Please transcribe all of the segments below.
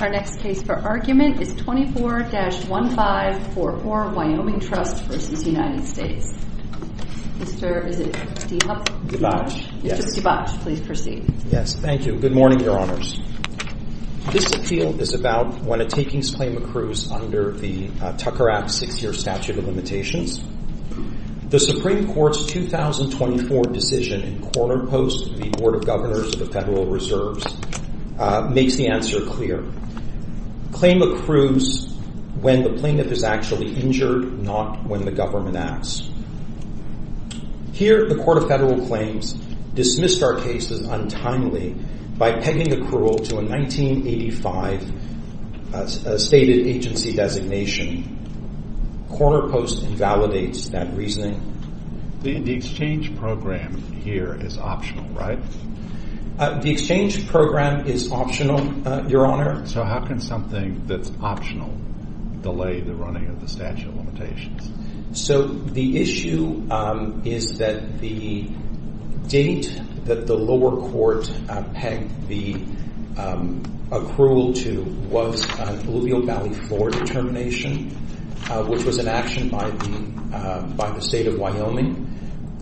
The Supreme Court's 2024 decision in quarter post to the Board of Governors of the Federal Reserves makes the answer clear. Claim accrues when the plaintiff is actually injured, not when the government acts. Here the Court of Federal Claims dismissed our case as untimely by pegging accrual to a 1985 stated agency designation. Quarter post invalidates that reasoning. The exchange program here is optional, right? The exchange program is optional, Your Honor. So how can something that's optional delay the running of the statute of limitations? So the issue is that the date that the lower court pegged the accrual to was Bloomingdale Valley 4 determination, which was an action by the State of Wyoming.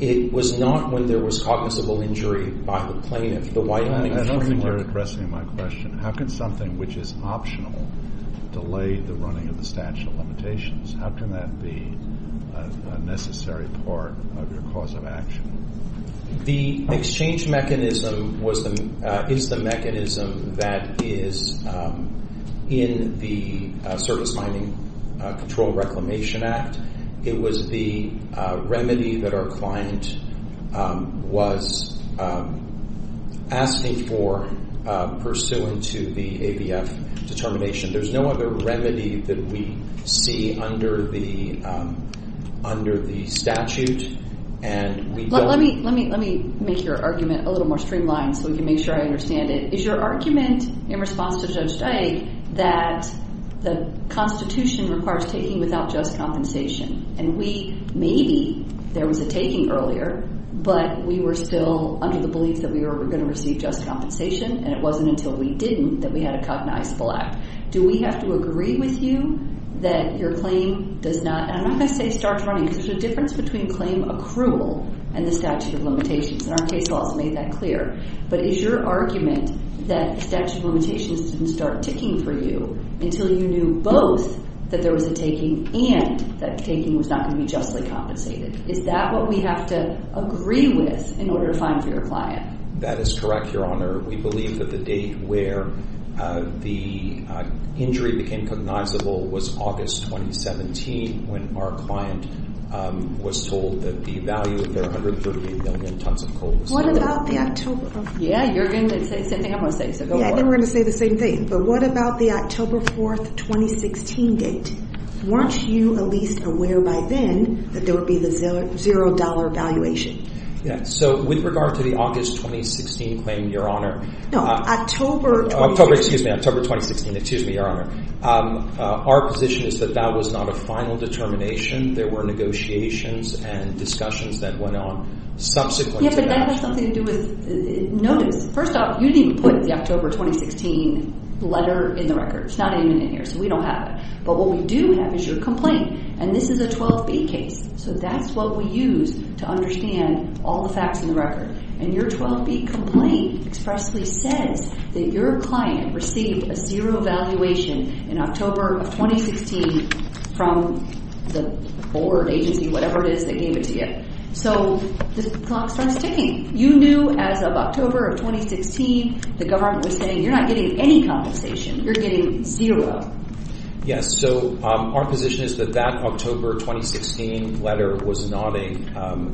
It was not when there was cognizable injury by the plaintiff. The Wyoming... I don't think you're addressing my question. How can something which is optional delay the running of the statute of limitations? How can that be a necessary part of your cause of action? The exchange mechanism is the mechanism that is in the Service Mining Control Reclamation Act. It was the remedy that our client was asking for pursuant to the ABF determination. There's no other remedy that we see under the statute and we don't... Let me make your argument a little more streamlined so we can make sure I understand it. Is your argument in response to Judge Dyke that the Constitution requires taking without just compensation and we, maybe there was a taking earlier, but we were still under the belief that we were going to receive just compensation and it wasn't until we didn't that we had a cognizable act. Do we have to agree with you that your claim does not... And I'm not going to say starts running because there's a difference between claim accrual and the statute of limitations and our case also made that clear. But is your argument that the statute of limitations didn't start ticking for you until you knew both that there was a taking and that the taking was not going to be justly compensated? Is that what we have to agree with in order to find for your client? That is correct, Your Honor. We believe that the date where the injury became cognizable was August 2017 when our client was told that the value of their 138 million tons of coal was... What about the October... Yeah, you're going to say the same thing I'm going to say, so go for it. Yeah, I think we're going to say the same thing. But what about the October 4th, 2016 date? Weren't you at least aware by then that there would be the $0 valuation? Yeah, so with regard to the August 2016 claim, Your Honor... No, October... October, excuse me, October 2016, excuse me, Your Honor. Our position is that that was not a final determination. There were negotiations and discussions that went on subsequent to that. Yeah, but that has something to do with notice. First off, you didn't even put the October 2016 letter in the record. It's not even in here, so we don't have it. But what we do have is your complaint, and this is a 12B case, so that's what we use to understand all the facts in the record. And your 12B complaint expressly says that your client received a zero valuation in October of 2016 from the board, agency, whatever it is that gave it to you. So the clock starts ticking. You knew as of October of 2016, the government was saying, you're not getting any compensation. You're getting zero. Yes, so our position is that that October 2016 letter was not a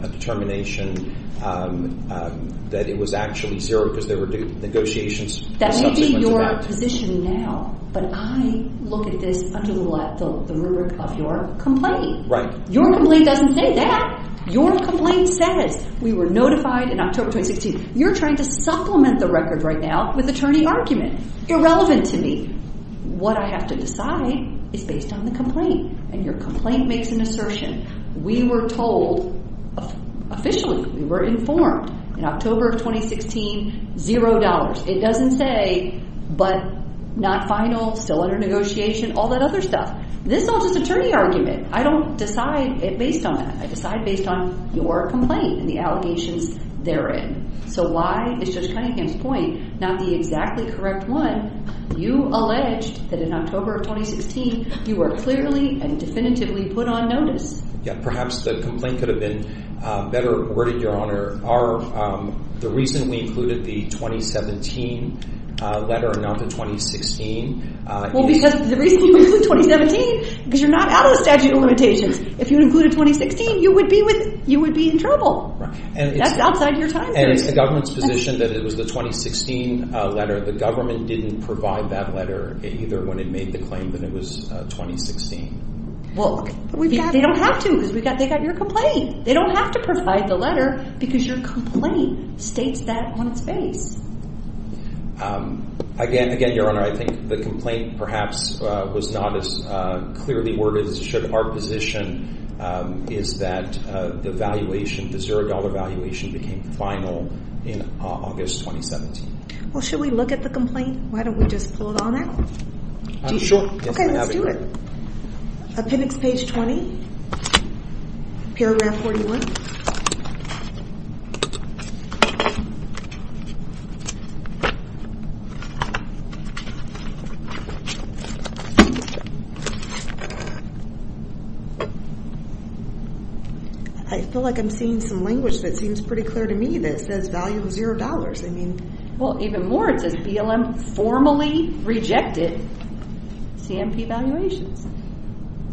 determination, that it was actually zero because there were negotiations... That may be your position now, but I look at this under the rubric of your complaint. Your complaint doesn't say that. Your complaint says we were notified in October 2016. You're trying to supplement the record right now with attorney argument. Irrelevant to me. What I have to decide is based on the complaint, and your complaint makes an assertion. We were told officially, we were informed in October of 2016, zero dollars. It doesn't say, but not final, still under negotiation, all that other stuff. This is all just attorney argument. I don't decide based on that. I decide based on your complaint and the allegations therein. So why is Judge Cunningham's point not the exactly correct one? You alleged that in October of 2016, you were clearly and definitively put on notice. Yeah, perhaps the complaint could have been better worded, Your Honor. The reason we included the 2017 letter and not the 2016... Well, because the reason we included 2017, because you're not out of the statute of limitations. If you included 2016, you would be in trouble. That's outside your time period. And it's the government's position that it was the 2016 letter. The government didn't provide that letter either when it made the claim that it was 2016. Well, they don't have to, because they got your complaint. They don't have to provide the letter, because your complaint states that on its face. Again, Your Honor, I think the complaint perhaps was not as clearly worded as should our position is that the valuation, the $0 valuation became final in August 2017. Well, should we look at the complaint? Why don't we just pull it on out? Sure. Okay, let's do it. Appendix page 20, paragraph 41. I feel like I'm seeing some language that seems pretty clear to me that says value $0. I mean... Well, even more, it says BLM formally rejected CMP valuations.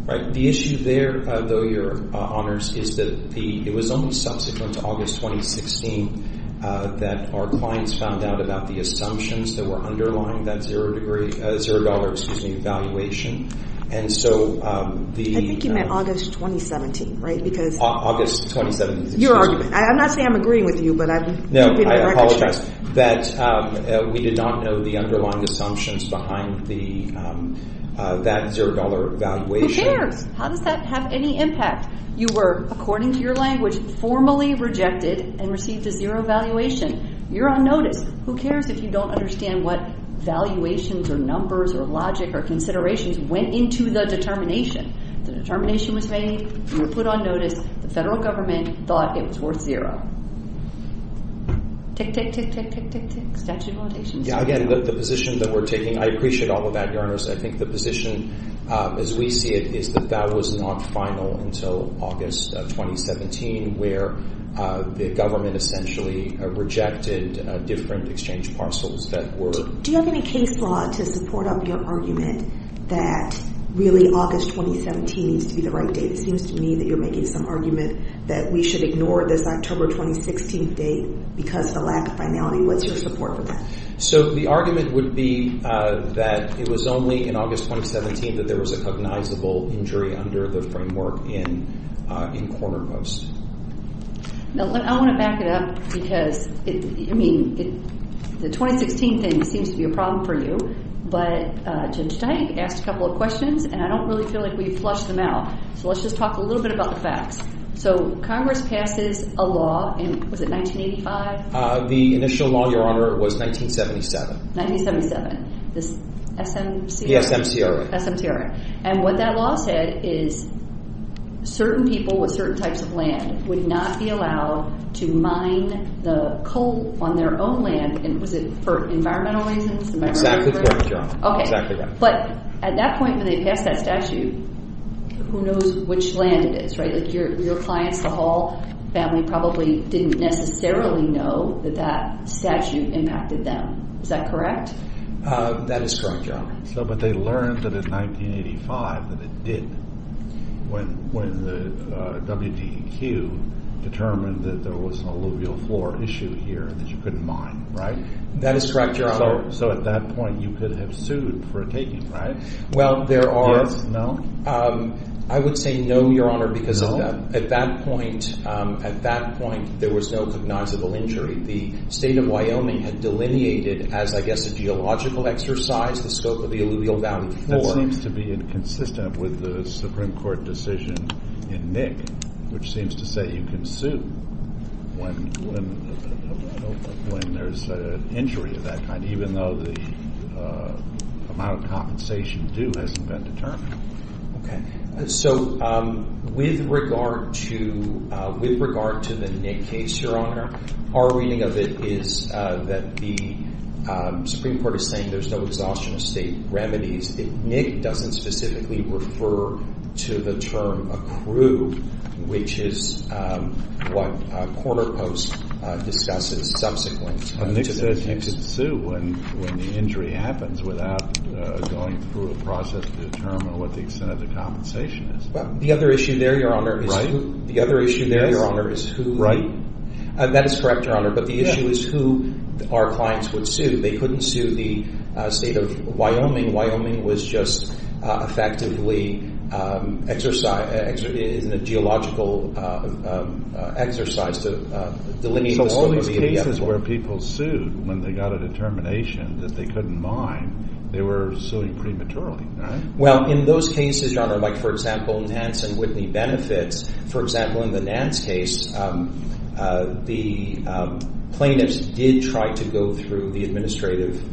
Right. The issue there, though, Your Honors, is that it was only subsequent to August 2016 that our clients found out about the assumptions that were underlying that $0 valuation. And so the... I think you meant August 2017, right? Because... August 2017. Your argument. I'm not saying I'm agreeing with you, but I'm... No, I apologize that we did not know the underlying assumptions behind that $0 valuation. Who cares? How does that have any impact? You were, according to your language, formally rejected and received a $0 valuation. You're on notice. Who cares if you don't understand what valuations or numbers or logic or considerations went into the determination? The determination was made. You were put on notice. The federal government thought it was worth $0. Tick, tick, tick, tick, tick, tick, tick, statute of limitations. Yeah, again, the position that we're taking, I appreciate all of that, Your Honors. I think the position, as we see it, is that that was not final until August 2017, where the government essentially rejected different exchange parcels that were... Do you have any case law to support up your argument that really August 2017 needs to be the right date? It seems to me that you're making some argument that we should ignore this October 2016 date because of the lack of finality. What's your support for that? So, the argument would be that it was only in August 2017 that there was a cognizable injury under the framework in Corner Post. Now, I want to back it up because, I mean, the 2016 thing seems to be a problem for you, but Judge Tank asked a couple of questions and I don't really feel like we flushed them out. So, let's just talk a little bit about the facts. So, Congress passes a law in, was it 1985? The initial law, Your Honor, was 1977. 1977. The SMCRA. The SMCRA. SMCRA. And what that law said is certain people with certain types of land would not be allowed to mine the coal on their own land. Was it for environmental reasons? Exactly correct, Your Honor. Exactly right. But at that point when they passed that statute, who knows which land it is, right? Like your clients, the Hall family probably didn't necessarily know that that statute impacted them. Is that correct? That is correct, Your Honor. So, but they learned that in 1985 that it did when the WDEQ determined that there was an alluvial floor issue here that you couldn't mine, right? That is correct, Your Honor. So, at that point you could have sued for a taking, right? Well, there are... Yes, no? I would say no, Your Honor, because at that point, at that point there was no cognizable injury. The State of Wyoming had delineated as, I guess, a geological exercise the scope of the alluvial valley floor. That seems to be inconsistent with the Supreme Court decision in Nick, which seems to say you can sue when there's an injury of that kind, even though the amount of compensation due hasn't been determined. Okay. So, with regard to the Nick case, Your Honor, our reading of it is that the Supreme Court is saying there's no exhaustion of state remedies. Nick doesn't specifically refer to the term accrued, which is what a quarter post discusses subsequently. Nick says you can sue when the injury happens without going through a process to determine what the extent of the compensation is. Well, the other issue there, Your Honor, is who... The other issue there, Your Honor, is who... That is correct, Your Honor, but the issue is who our clients would sue. They couldn't sue the State of Wyoming. Wyoming was just effectively in a geological exercise to delineate the scope of the alluvial valley floor. So, all these cases where people sued when they got a determination that they couldn't mine, they were suing prematurely, right? Well, in those cases, Your Honor, like, for example, Nance and Whitney benefits. For example, in the Nance case, the plaintiffs did try to go through the administrative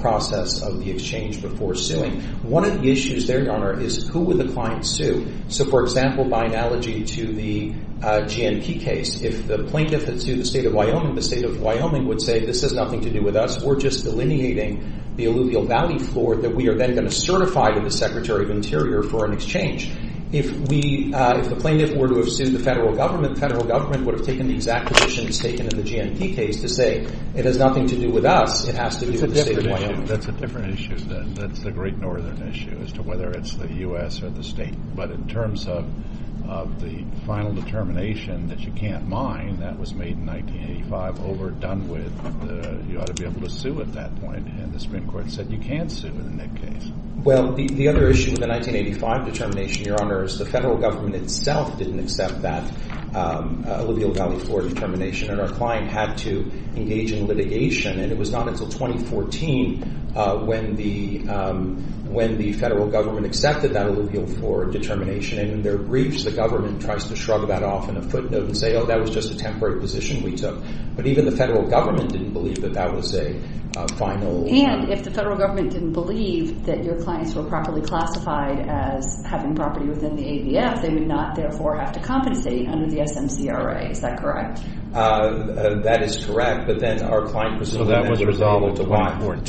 process of the exchange before suing. One of the issues there, Your Honor, is who would the client sue? So, for example, by analogy to the GNP case, if the plaintiff had sued the State of Wyoming, the State of Wyoming would say, this has nothing to do with us, we're just delineating the alluvial valley floor that we are then going to certify to the Secretary of Interior for an exchange. If the plaintiff were to have sued the federal government, the federal government would have taken the exact positions taken in the GNP case to say, it has nothing to do with us, it has to do with the State of Wyoming. That's a different issue then. That's the great northern issue as to whether it's the U.S. or the state. But in terms of the final determination that you can't mine, that was made in 1985, over, and the Supreme Court said you can't sue in that case. Well, the other issue with the 1985 determination, Your Honor, is the federal government itself didn't accept that alluvial valley floor determination and our client had to engage in litigation and it was not until 2014 when the federal government accepted that alluvial floor determination and in their briefs the government tries to shrug that off in a footnote and say, oh, that was just a temporary position we took. But even the federal government didn't believe that that was a final... And if the federal government didn't believe that your clients were properly classified as having property within the ADF, they would not therefore have to compensate under the SMCRA. Is that correct? That is correct, but then our client was... So that was resolvable to mine.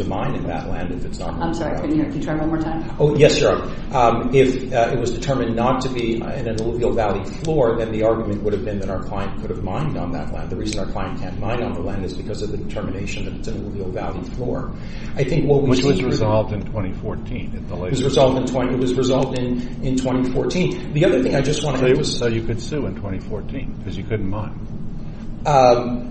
To mine in that land if it's not... I'm sorry, can you try one more time? Oh, yes, Your Honor. If it was determined not to be in an alluvial valley floor, then the argument would have been that our client could have mined on that land. The reason our client can't mine on the land is because of the determination that it's an alluvial valley floor. I think what we see... Which was resolved in 2014. It was resolved in 2014. The other thing I just want to... So you could sue in 2014 because you couldn't mine.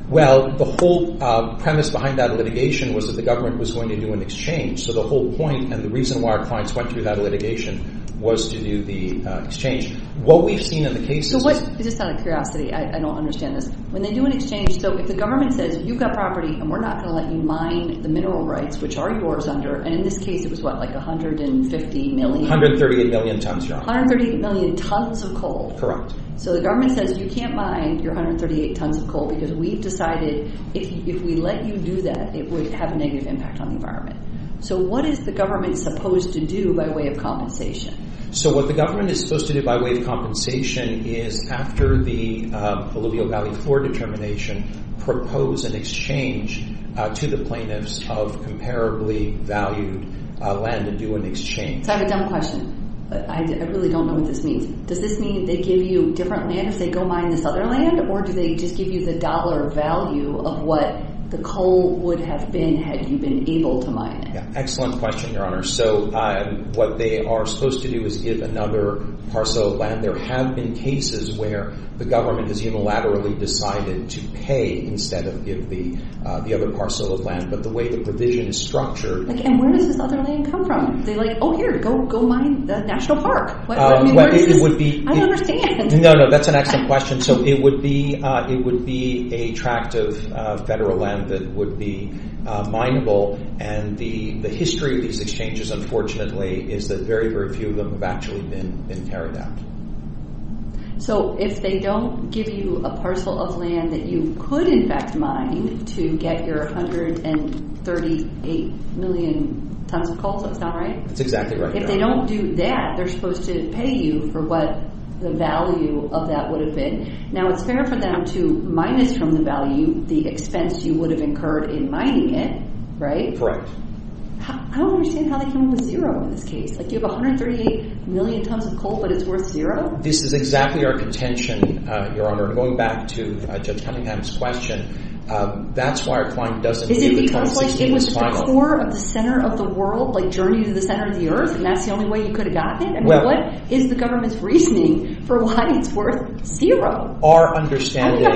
Well, the whole premise behind that litigation was that the government was going to do an exchange. So the whole point and the reason why our clients went through that litigation was to do the exchange. What we've seen in the cases... This is out of curiosity. I don't understand this. When they do an exchange, so if the government says, you've got property and we're not going to let you mine the mineral rights, which are yours under, and in this case it was what, like 150 million? 138 million tons, Your Honor. 138 million tons of coal. Correct. So the government says, you can't mine your 138 tons of coal because we've decided if we let you do that, it would have a negative impact on the environment. So what is the government supposed to do by way of compensation? So what the government is supposed to do by way of compensation is, after the Alluvial Valley floor determination, propose an exchange to the plaintiffs of comparably valued land to do an exchange. So I have a dumb question. I really don't know what this means. Does this mean they give you different land if they go mine this other land, or do they just give you the dollar value of what the coal would have been had you been able to mine it? Excellent question, Your Honor. So what they are supposed to do is give another parcel of land. There have been cases where the government has unilaterally decided to pay instead of give the other parcel of land, but the way the provision is structured— And where does this other land come from? They're like, oh, here, go mine the national park. I don't understand. No, no, that's an excellent question. So it would be a tract of federal land that would be mineable, and the history of these exchanges, unfortunately, is that very, very few of them have actually been carried out. So if they don't give you a parcel of land that you could, in fact, mine to get your 138 million tons of coal, so it's not right? That's exactly right, Your Honor. If they don't do that, they're supposed to pay you for what the value of that would have been. Now, it's fair for them to minus from the value the expense you would have incurred in mining it, right? Correct. I don't understand how they came up with zero in this case. Like, you have 138 million tons of coal, but it's worth zero? This is exactly our contention, Your Honor. Going back to Judge Cunningham's question, that's why our client doesn't give the total. Is it because it was just a tour of the center of the world, like a journey to the center of the earth, and that's the only way you could have gotten it? What is the government's reasoning for why it's worth zero? Our understanding is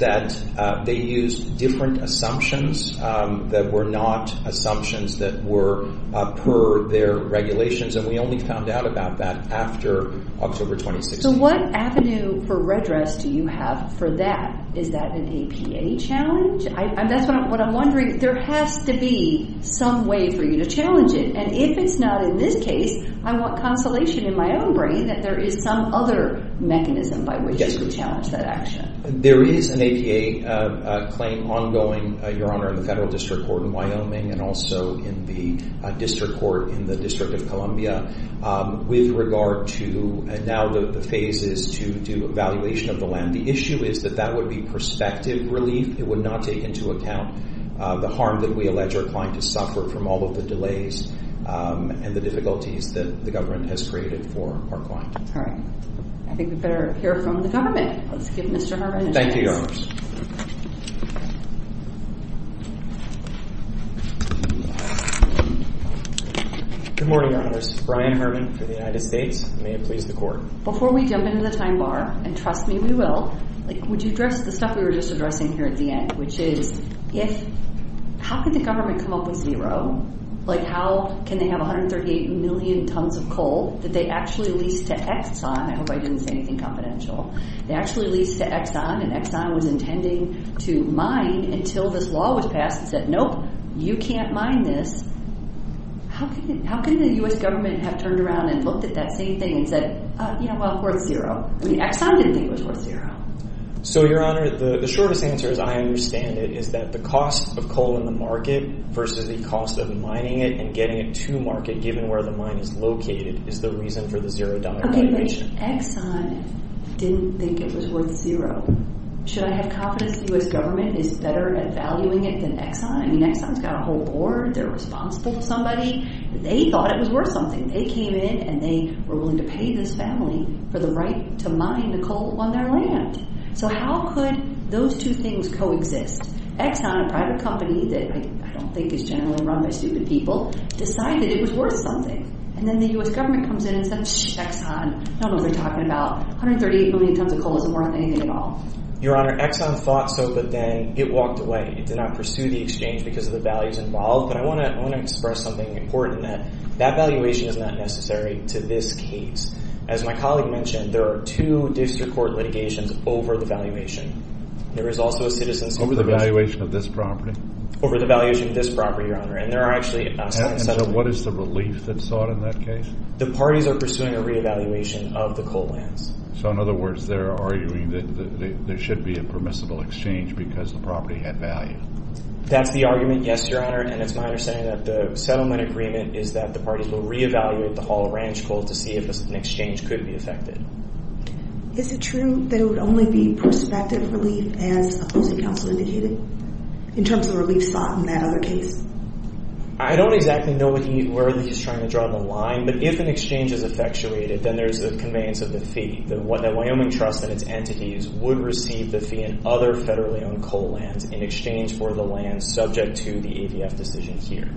that they used different assumptions that were not assumptions that were per their regulations, and we only found out about that after October 2016. So what avenue for redress do you have for that? Is that an APA challenge? That's what I'm wondering. There has to be some way for you to challenge it, and if it's not in this case, I want consolation in my own brain that there is some other mechanism by which you could challenge that action. There is an APA claim ongoing, Your Honor, in the federal district court in Wyoming and also in the district court in the District of Columbia with regard to now the phases to do evaluation of the land. The issue is that that would be perspective relief. It would not take into account the harm that we allege our client has suffered from all of the delays and the difficulties that the government has created for our client. All right. I think we better hear from the government. Let's give Mr. Herman a chance. Thank you, Your Honors. Good morning, Your Honors. Brian Herman for the United States. May it please the Court. Before we jump into the time bar, and trust me, we will, would you address the stuff we were just addressing here at the end, which is how could the government come up with zero? Like how can they have 138 million tons of coal that they actually leased to Exxon? I hope I didn't say anything confidential. They actually leased to Exxon, and Exxon was intending to mine until this law was passed. It said, nope, you can't mine this. How can the U.S. government have turned around and looked at that same thing and said, yeah, well, worth zero? I mean, Exxon didn't think it was worth zero. So, Your Honor, the shortest answer, as I understand it, is that the cost of coal in the market versus the cost of mining it and getting it to market given where the mine is located is the reason for the $0 valuation. Okay, but Exxon didn't think it was worth zero. Should I have confidence the U.S. government is better at valuing it than Exxon? I mean, Exxon's got a whole board. They're responsible to somebody. They thought it was worth something. They came in, and they were willing to pay this family for the right to mine the coal on their land. So how could those two things coexist? Exxon, a private company that I don't think is generally run by stupid people, decided it was worth something. And then the U.S. government comes in and says, shh, Exxon. I don't know what they're talking about. 138 million tons of coal isn't worth anything at all. Your Honor, Exxon thought so, but then it walked away. It did not pursue the exchange because of the values involved. But I want to express something important in that. That valuation is not necessary to this case. As my colleague mentioned, there are two district court litigations over the valuation. There is also a citizen's commission. Over the valuation of this property? Over the valuation of this property, Your Honor. And there are actually seven settlements. And so what is the relief that's sought in that case? The parties are pursuing a reevaluation of the coal lands. So, in other words, they're arguing that there should be a permissible exchange because the property had value. That's the argument, yes, Your Honor. And it's my understanding that the settlement agreement is that the parties will reevaluate the whole ranch coal to see if an exchange could be affected. Is it true that it would only be prospective relief as opposing counsel indicated in terms of relief sought in that other case? I don't exactly know where he's trying to draw the line. But if an exchange is effectuated, then there's a conveyance of the fee. The Wyoming Trust and its entities would receive the fee in other federally owned coal lands in exchange for the lands subject to the EVF decision here.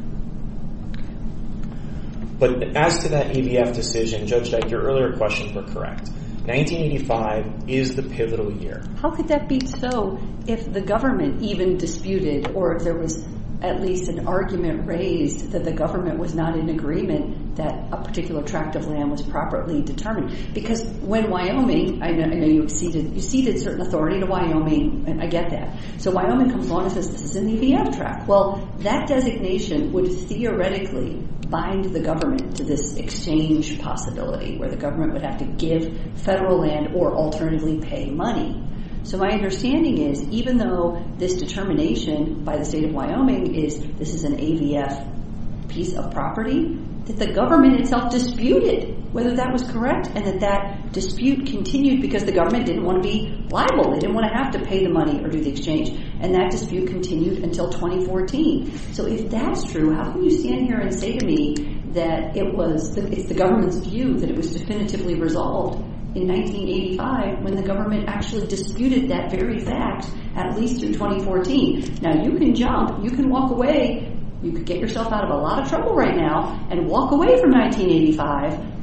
But as to that EVF decision, Judge Dyke, your earlier questions were correct. 1985 is the pivotal year. How could that be so if the government even disputed or if there was at least an argument raised that the government was not in agreement that a particular tract of land was properly determined? Because when Wyoming—I know you ceded certain authority to Wyoming. I get that. So Wyoming comes along and says this is an EVF tract. Well, that designation would theoretically bind the government to this exchange possibility where the government would have to give federal land or alternatively pay money. So my understanding is even though this determination by the state of Wyoming is this is an EVF piece of property, that the government itself disputed whether that was correct and that that dispute continued because the government didn't want to be liable. They didn't want to have to pay the money or do the exchange. And that dispute continued until 2014. So if that's true, how can you stand here and say to me that it was—it's the government's view that it was definitively resolved in 1985 when the government actually disputed that very fact at least in 2014? Now, you can jump. You can walk away. You could get yourself out of a lot of trouble right now and walk away from 1985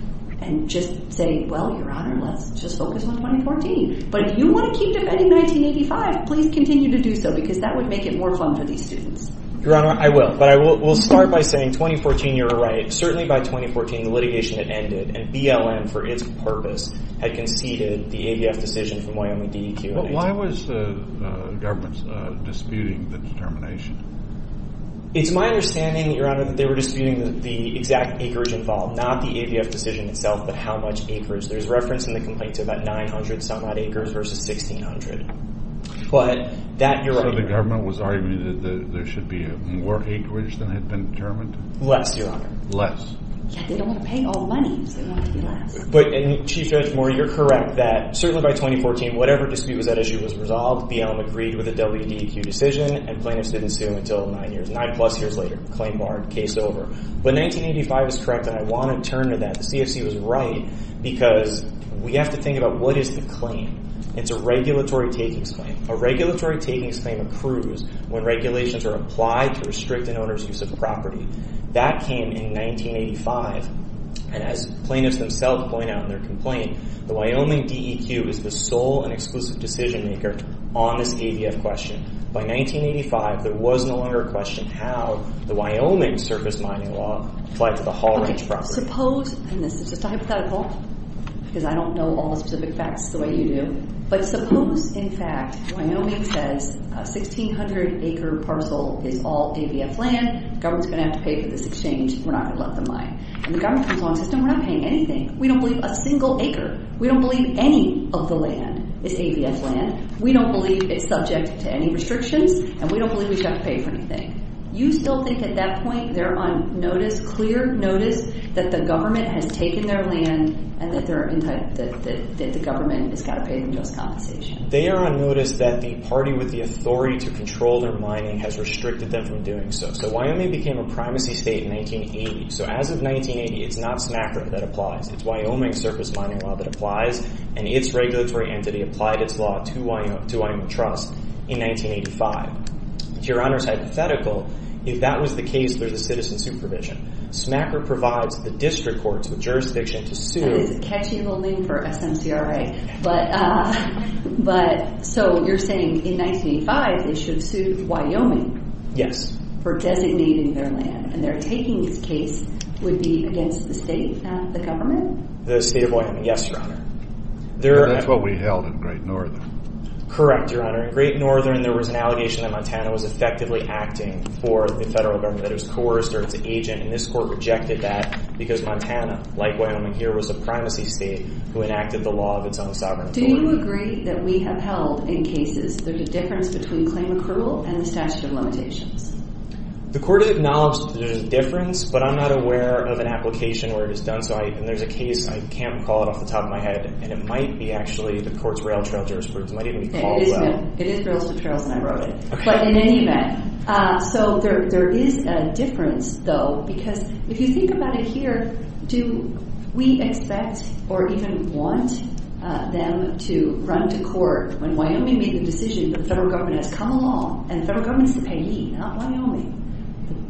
and just say, well, Your Honor, let's just focus on 2014. But if you want to keep defending 1985, please continue to do so because that would make it more fun for these students. Your Honor, I will. But I will start by saying 2014 you're right. Certainly by 2014 the litigation had ended and BLM for its purpose had conceded the EVF decision from Wyoming DEQ in 1985. But why was the government disputing the determination? It's my understanding, Your Honor, that they were disputing the exact acres involved, not the EVF decision itself but how much acres. There's reference in the complaint to about 900-some-odd acres versus 1,600. But that, Your Honor— So the government was arguing that there should be more acreage than had been determined? Less, Your Honor. Less. Yeah, they don't want to pay all the money, so they want it to be less. But, Chief Judge Moore, you're correct that certainly by 2014 whatever dispute was at issue was resolved. BLM agreed with the WDEQ decision and plaintiffs didn't sue until nine years, nine-plus years later. Claim barred. Case over. But 1985 is correct and I want to turn to that. Because we have to think about what is the claim. It's a regulatory takings claim. A regulatory takings claim approves when regulations are applied to restrict an owner's use of a property. That came in 1985. And as plaintiffs themselves point out in their complaint, the Wyoming DEQ is the sole and exclusive decision-maker on this EVF question. By 1985, there was no longer a question how the Wyoming surface mining law applied to the Hall Ranch property. And this is just a hypothetical because I don't know all the specific facts the way you do. But suppose, in fact, Wyoming says 1,600-acre parcel is all EVF land. The government is going to have to pay for this exchange. We're not going to let them mine. And the government comes along and says, no, we're not paying anything. We don't believe a single acre. We don't believe any of the land is EVF land. We don't believe it's subject to any restrictions. And we don't believe we should have to pay for anything. You still think at that point they're on notice, clear notice, that the government has taken their land and that the government has got to pay them just compensation? They are on notice that the party with the authority to control their mining has restricted them from doing so. So Wyoming became a primacy state in 1980. So as of 1980, it's not SNAPRIC that applies. It's Wyoming surface mining law that applies. And its regulatory entity applied its law to Wyoming Trust in 1985. Your Honor, it's hypothetical if that was the case under the citizen supervision. SNAPRIC provides the district courts with jurisdiction to sue. That is a catchy little name for SMCRA. But so you're saying in 1985 they should sue Wyoming for designating their land. And their taking of this case would be against the state, not the government? The state of Wyoming, yes, Your Honor. That's what we held in Great Northern. Correct, Your Honor. In Great Northern there was an allegation that Montana was effectively acting for the federal government. That it was coerced or it's an agent. And this court rejected that because Montana, like Wyoming here, was a primacy state who enacted the law of its own sovereign authority. Do you agree that we have held in cases there's a difference between claim accrual and the statute of limitations? The court has acknowledged there's a difference, but I'm not aware of an application where it is done so. And there's a case, I can't recall it off the top of my head, and it might be actually the court's rail trail jurisprudence. It might even be Caldwell. It is rails to trails, and I wrote it. But in any event, so there is a difference, though, because if you think about it here, do we expect or even want them to run to court when Wyoming made the decision that the federal government has come along? And the federal government is the payee, not Wyoming.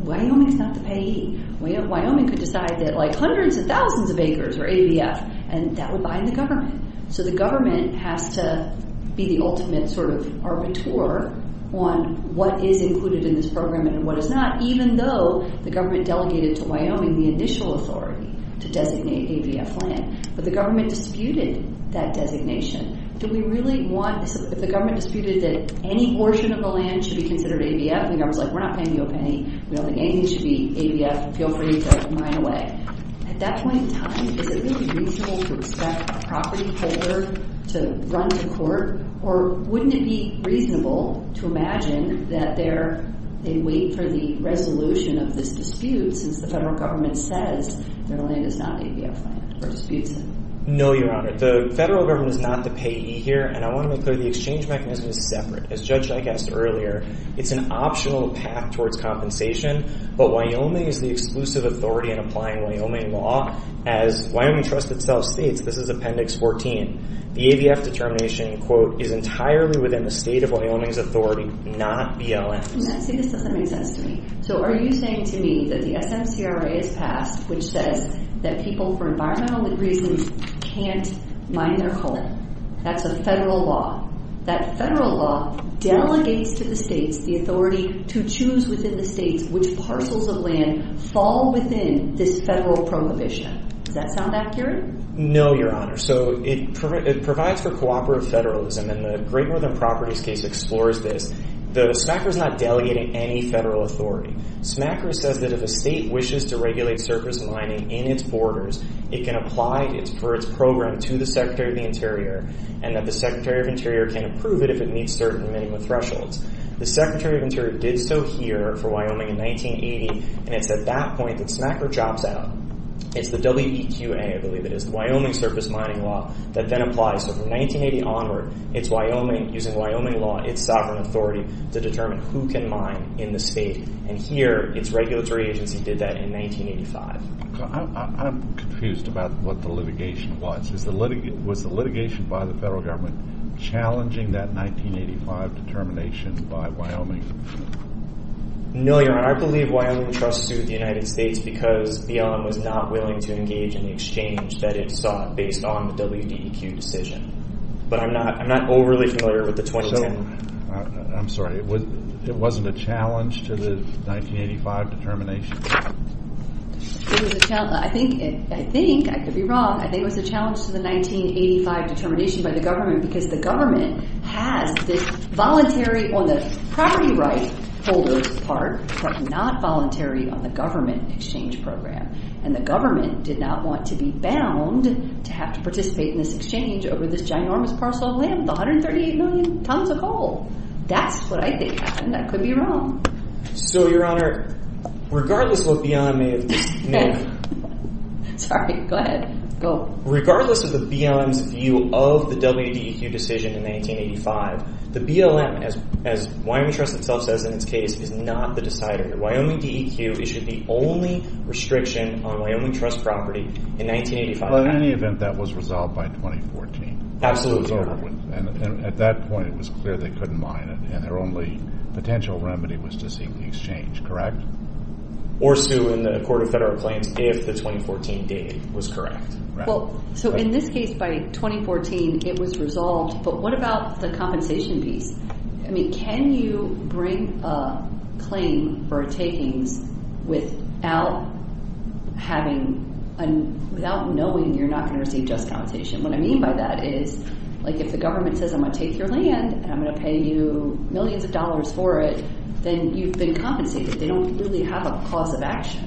Wyoming is not the payee. Wyoming could decide that, like, hundreds of thousands of acres are ABF, and that would bind the government. So the government has to be the ultimate sort of arbiter on what is included in this program and what is not, even though the government delegated to Wyoming the initial authority to designate ABF land. But the government disputed that designation. Do we really want this? If the government disputed that any portion of the land should be considered ABF, we're not paying you a penny. We don't think anything should be ABF. Feel free to mine away. At that point in time, is it going to be reasonable to expect the property holder to run to court, or wouldn't it be reasonable to imagine that they wait for the resolution of this dispute since the federal government says their land is not ABF land or disputes it? No, Your Honor. The federal government is not the payee here, and I want to make clear the exchange mechanism is separate. As Judge Dyk asked earlier, it's an optional path towards compensation, but Wyoming is the exclusive authority in applying Wyoming law. As Wyoming Trust itself states, this is Appendix 14, the ABF determination, quote, is entirely within the state of Wyoming's authority, not BLM's. See, this doesn't make sense to me. So are you saying to me that the SMCRA has passed which says that people for environmental reasons can't mine their home? That's a federal law. That federal law delegates to the states the authority to choose within the states which parcels of land fall within this federal prohibition. Does that sound accurate? No, Your Honor. So it provides for cooperative federalism, and the Great Northern Properties case explores this. The SMCRA is not delegating any federal authority. SMCRA says that if a state wishes to regulate surface mining in its borders, it can apply for its program to the Secretary of the Interior, and that the Secretary of the Interior can approve it if it meets certain minimum thresholds. The Secretary of the Interior did so here for Wyoming in 1980, and it's at that point that SMCRA chops out. It's the WEQA, I believe it is, the Wyoming Surface Mining Law, that then applies. So from 1980 onward, it's using Wyoming law, its sovereign authority, to determine who can mine in the state. And here, its regulatory agency did that in 1985. I'm confused about what the litigation was. Was the litigation by the federal government challenging that 1985 determination by Wyoming? No, Your Honor. I believe Wyoming trusts with the United States because BEOM was not willing to engage in the exchange that it sought based on the WDEQ decision. But I'm not overly familiar with the 2010. I'm sorry. It wasn't a challenge to the 1985 determination? It was a challenge. I think, I could be wrong, I think it was a challenge to the 1985 determination by the government because the government has this voluntary on the property rights holder's part, but not voluntary on the government exchange program. And the government did not want to be bound to have to participate in this exchange over this ginormous parcel of land with 138 million tons of coal. That's what I think happened. I could be wrong. So, Your Honor, regardless what BEOM may have done. Sorry, go ahead. Regardless of the BEOM's view of the WDEQ decision in 1985, the BLM, as Wyoming Trust itself says in its case, is not the decider. Wyoming DEQ issued the only restriction on Wyoming Trust property in 1985. In any event, that was resolved by 2014. Absolutely. At that point, it was clear they couldn't mine it, and their only potential remedy was to seek the exchange, correct? Or sue in the Court of Federal Claims if the 2014 date was correct. Well, so in this case, by 2014, it was resolved. But what about the compensation piece? I mean, can you bring a claim for takings without knowing you're not going to receive just compensation? What I mean by that is, like, if the government says, I'm going to take your land and I'm going to pay you millions of dollars for it, then you've been compensated. They don't really have a cause of action.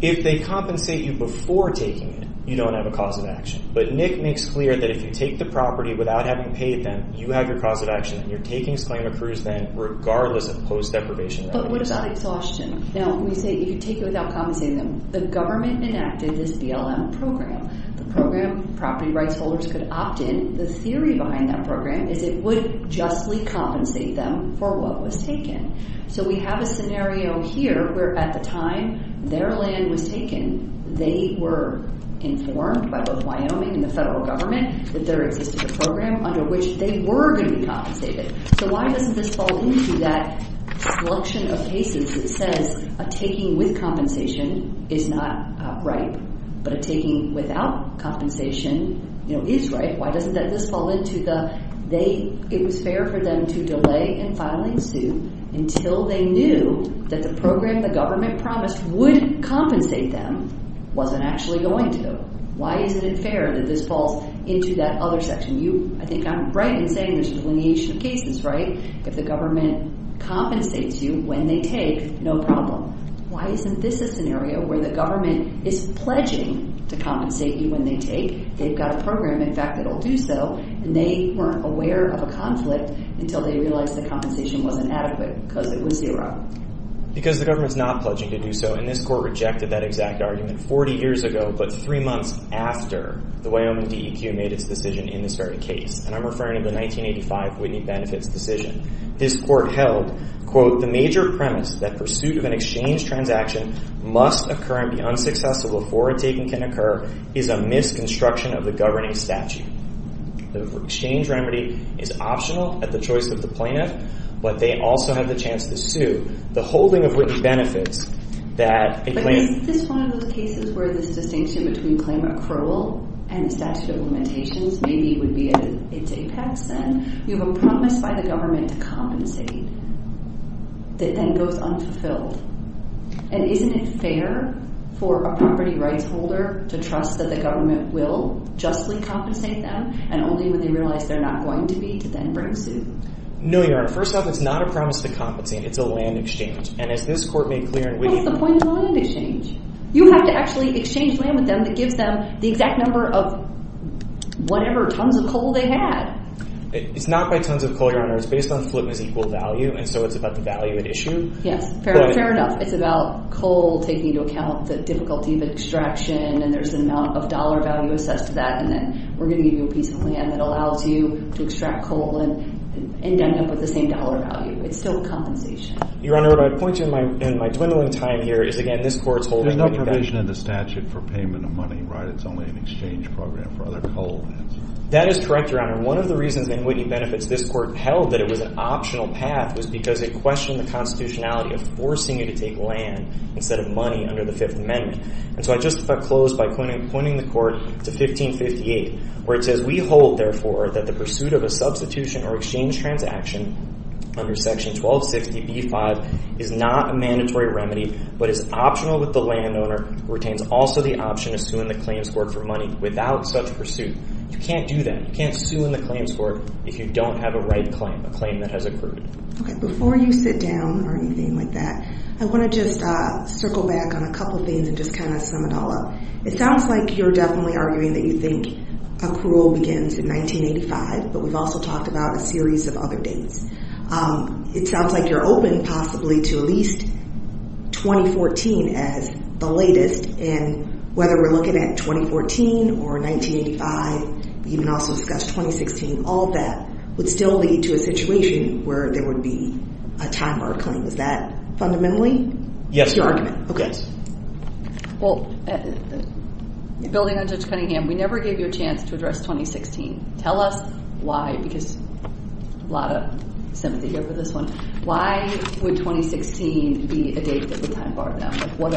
If they compensate you before taking it, you don't have a cause of action. But Nick makes clear that if you take the property without having paid them, you have your cause of action, and your takings claim occurs then, regardless of post-deprivation remedies. But what about exhaustion? Now, we say you could take it without compensating them. The government enacted this BLM program. The program, property rights holders could opt in. The theory behind that program is it would justly compensate them for what was taken. So we have a scenario here where, at the time their land was taken, they were informed by both Wyoming and the federal government that there existed a program under which they were going to be compensated. So why doesn't this fall into that selection of cases that says a taking with compensation is not right, but a taking without compensation is right? Why doesn't this fall into the it was fair for them to delay in filing suit until they knew that the program the government promised would compensate them wasn't actually going to? Why isn't it fair that this falls into that other section? I think I'm right in saying there's a delineation of cases, right? If the government compensates you when they take, no problem. Why isn't this a scenario where the government is pledging to compensate you when they take? They've got a program, in fact, that will do so, and they weren't aware of a conflict until they realized the compensation wasn't adequate because it was zero. Because the government's not pledging to do so, and this court rejected that exact argument 40 years ago, but three months after the Wyoming DEQ made its decision in this very case, and I'm referring to the 1985 Whitney Benefits decision. This court held, quote, that pursuit of an exchange transaction must occur and be unsuccessful before a taking can occur is a misconstruction of the governing statute. The exchange remedy is optional at the choice of the plaintiff, but they also have the chance to sue. The holding of Whitney Benefits that a claim… But isn't this one of those cases where this distinction between claim accrual and statute of limitations maybe would be at its apex, and you have a promise by the government to compensate that then goes unfulfilled? And isn't it fair for a property rights holder to trust that the government will justly compensate them and only when they realize they're not going to be to then bring suit? No, Your Honor. First off, it's not a promise to compensate. It's a land exchange. And as this court made clear in… What's the point of a land exchange? You have to actually exchange land with them that gives them the exact number of whatever tons of coal they had. It's not by tons of coal, Your Honor. It's based on Fulham's equal value, and so it's about the value at issue. Yes, fair enough. It's about coal taking into account the difficulty of extraction, and there's an amount of dollar value assessed to that, and then we're going to give you a piece of land that allows you to extract coal and end up with the same dollar value. It's still compensation. Your Honor, what I'd point to in my dwindling time here is, again, this court's holding… There's no provision in the statute for payment of money, right? It's only an exchange program for other coal lands. That is correct, Your Honor. One of the reasons in Whitney Benefits this court held that it was an optional path was because it questioned the constitutionality of forcing you to take land instead of money under the Fifth Amendment. And so I just about close by pointing the court to 1558, where it says, We hold, therefore, that the pursuit of a substitution or exchange transaction under Section 1260b-5 is not a mandatory remedy but is optional with the landowner who retains also the option of suing the claims court for money without such pursuit. You can't do that. You can't sue in the claims court if you don't have a right claim, a claim that has accrued. Okay. Before you sit down or anything like that, I want to just circle back on a couple things and just kind of sum it all up. It sounds like you're definitely arguing that you think accrual begins in 1985, but we've also talked about a series of other dates. It sounds like you're open possibly to at least 2014 as the latest, and whether we're looking at 2014 or 1985, you can also discuss 2016. All of that would still lead to a situation where there would be a time of our claim. Is that fundamentally your argument? Well, building on Judge Cunningham, we never gave you a chance to address 2016. Tell us why, because a lot of sympathy here for this one. Why would 2016 be a date that would time bar them? What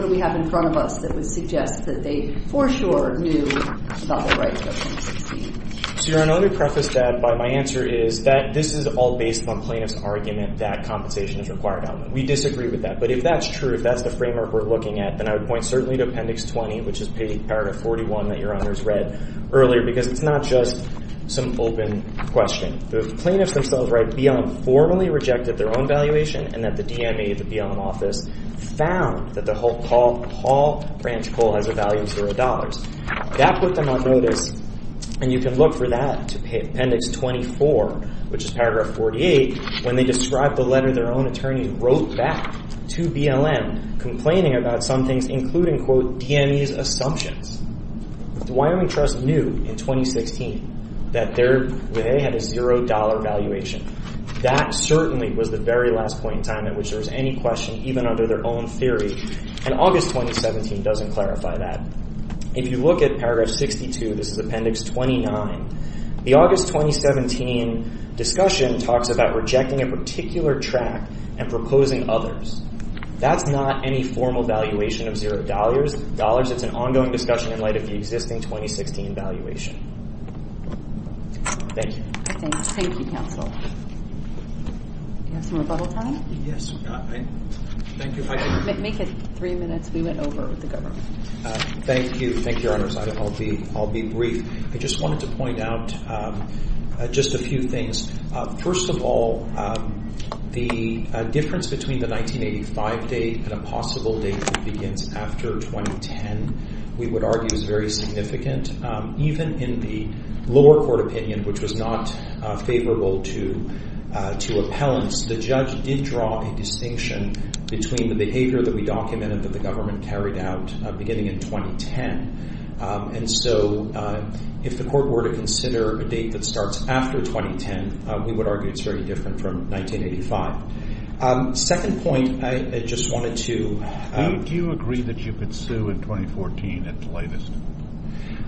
do we have in front of us that would suggest that they for sure knew about the rights of 2016? Your Honor, let me preface that by my answer is that this is all based upon plaintiff's argument that compensation is required. We disagree with that. But if that's true, if that's the framework we're looking at, then I would point certainly to Appendix 20, which is Paragraph 41 that Your Honor has read earlier, because it's not just some open question. The plaintiffs themselves write, BLM formally rejected their own valuation, and that the DME, the BLM office, found that the Hull Branch Coal has a value of $0. That put them on notice, and you can look for that to Appendix 24, which is Paragraph 48, when they describe the letter their own attorney wrote back to BLM, complaining about some things, including, quote, DME's assumptions. The Wyoming Trust knew in 2016 that they had a $0 valuation. That certainly was the very last point in time at which there was any question, even under their own theory, and August 2017 doesn't clarify that. If you look at Paragraph 62, this is Appendix 29, the August 2017 discussion talks about rejecting a particular track and proposing others. That's not any formal valuation of $0. It's an ongoing discussion in light of the existing 2016 valuation. Thank you. Thank you, counsel. Do you have some rebuttal time? Yes. Thank you. Make it three minutes. We went over with the government. Thank you. Thank you, Your Honors. I'll be brief. I just wanted to point out just a few things. First of all, the difference between the 1985 date and a possible date that begins after 2010, we would argue, is very significant. Even in the lower court opinion, which was not favorable to appellants, the judge did draw a distinction between the behavior that we documented that the government carried out beginning in 2010. If the court were to consider a date that starts after 2010, we would argue it's very different from 1985. Second point, I just wanted to… Do you agree that you could sue in 2014 at the latest?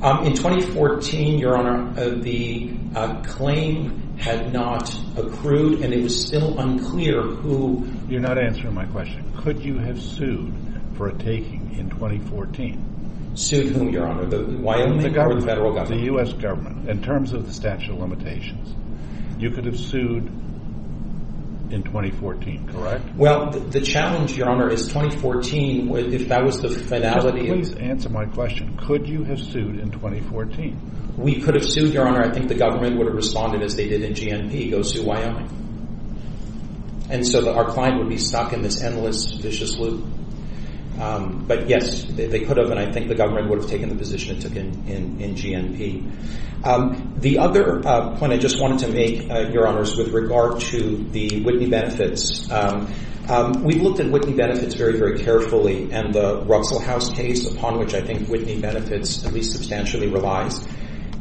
In 2014, Your Honor, the claim had not accrued, and it was still unclear who… You're not answering my question. Could you have sued for a taking in 2014? Sued whom, Your Honor? Wyoming or the federal government? The U.S. government. In terms of the statute of limitations, you could have sued in 2014, correct? Well, the challenge, Your Honor, is 2014, if that was the finality… Please answer my question. Could you have sued in 2014? We could have sued, Your Honor. I think the government would have responded as they did in GNP. Go sue Wyoming. And so our client would be stuck in this endless, vicious loop. But, yes, they could have, and I think the government would have taken the position it took in GNP. The other point I just wanted to make, Your Honor, is with regard to the Whitney benefits. We've looked at Whitney benefits very, very carefully, and the Ruxell House case, upon which I think Whitney benefits at least substantially relies.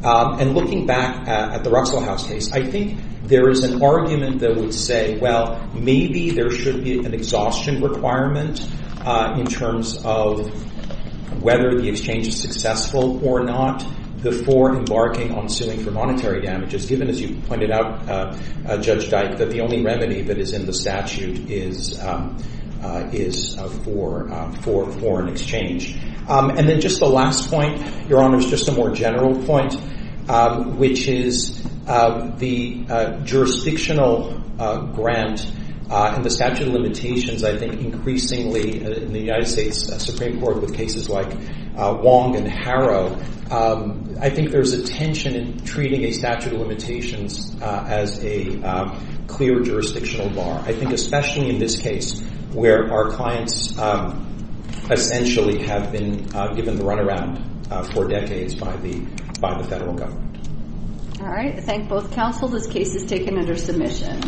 And looking back at the Ruxell House case, I think there is an argument that would say, well, maybe there should be an exhaustion requirement in terms of whether the exchange is successful or not before embarking on suing for monetary damages, given, as you pointed out, Judge Dyke, that the only remedy that is in the statute is for foreign exchange. And then just the last point, Your Honor, is just a more general point, which is the jurisdictional grant and the statute of limitations, I think increasingly in the United States Supreme Court with cases like Wong and Harrow, I think there's a tension in treating a statute of limitations as a clear jurisdictional bar. I think especially in this case where our clients essentially have been given the runaround for decades by the federal government. All right. I thank both counsel. This case is taken under submission.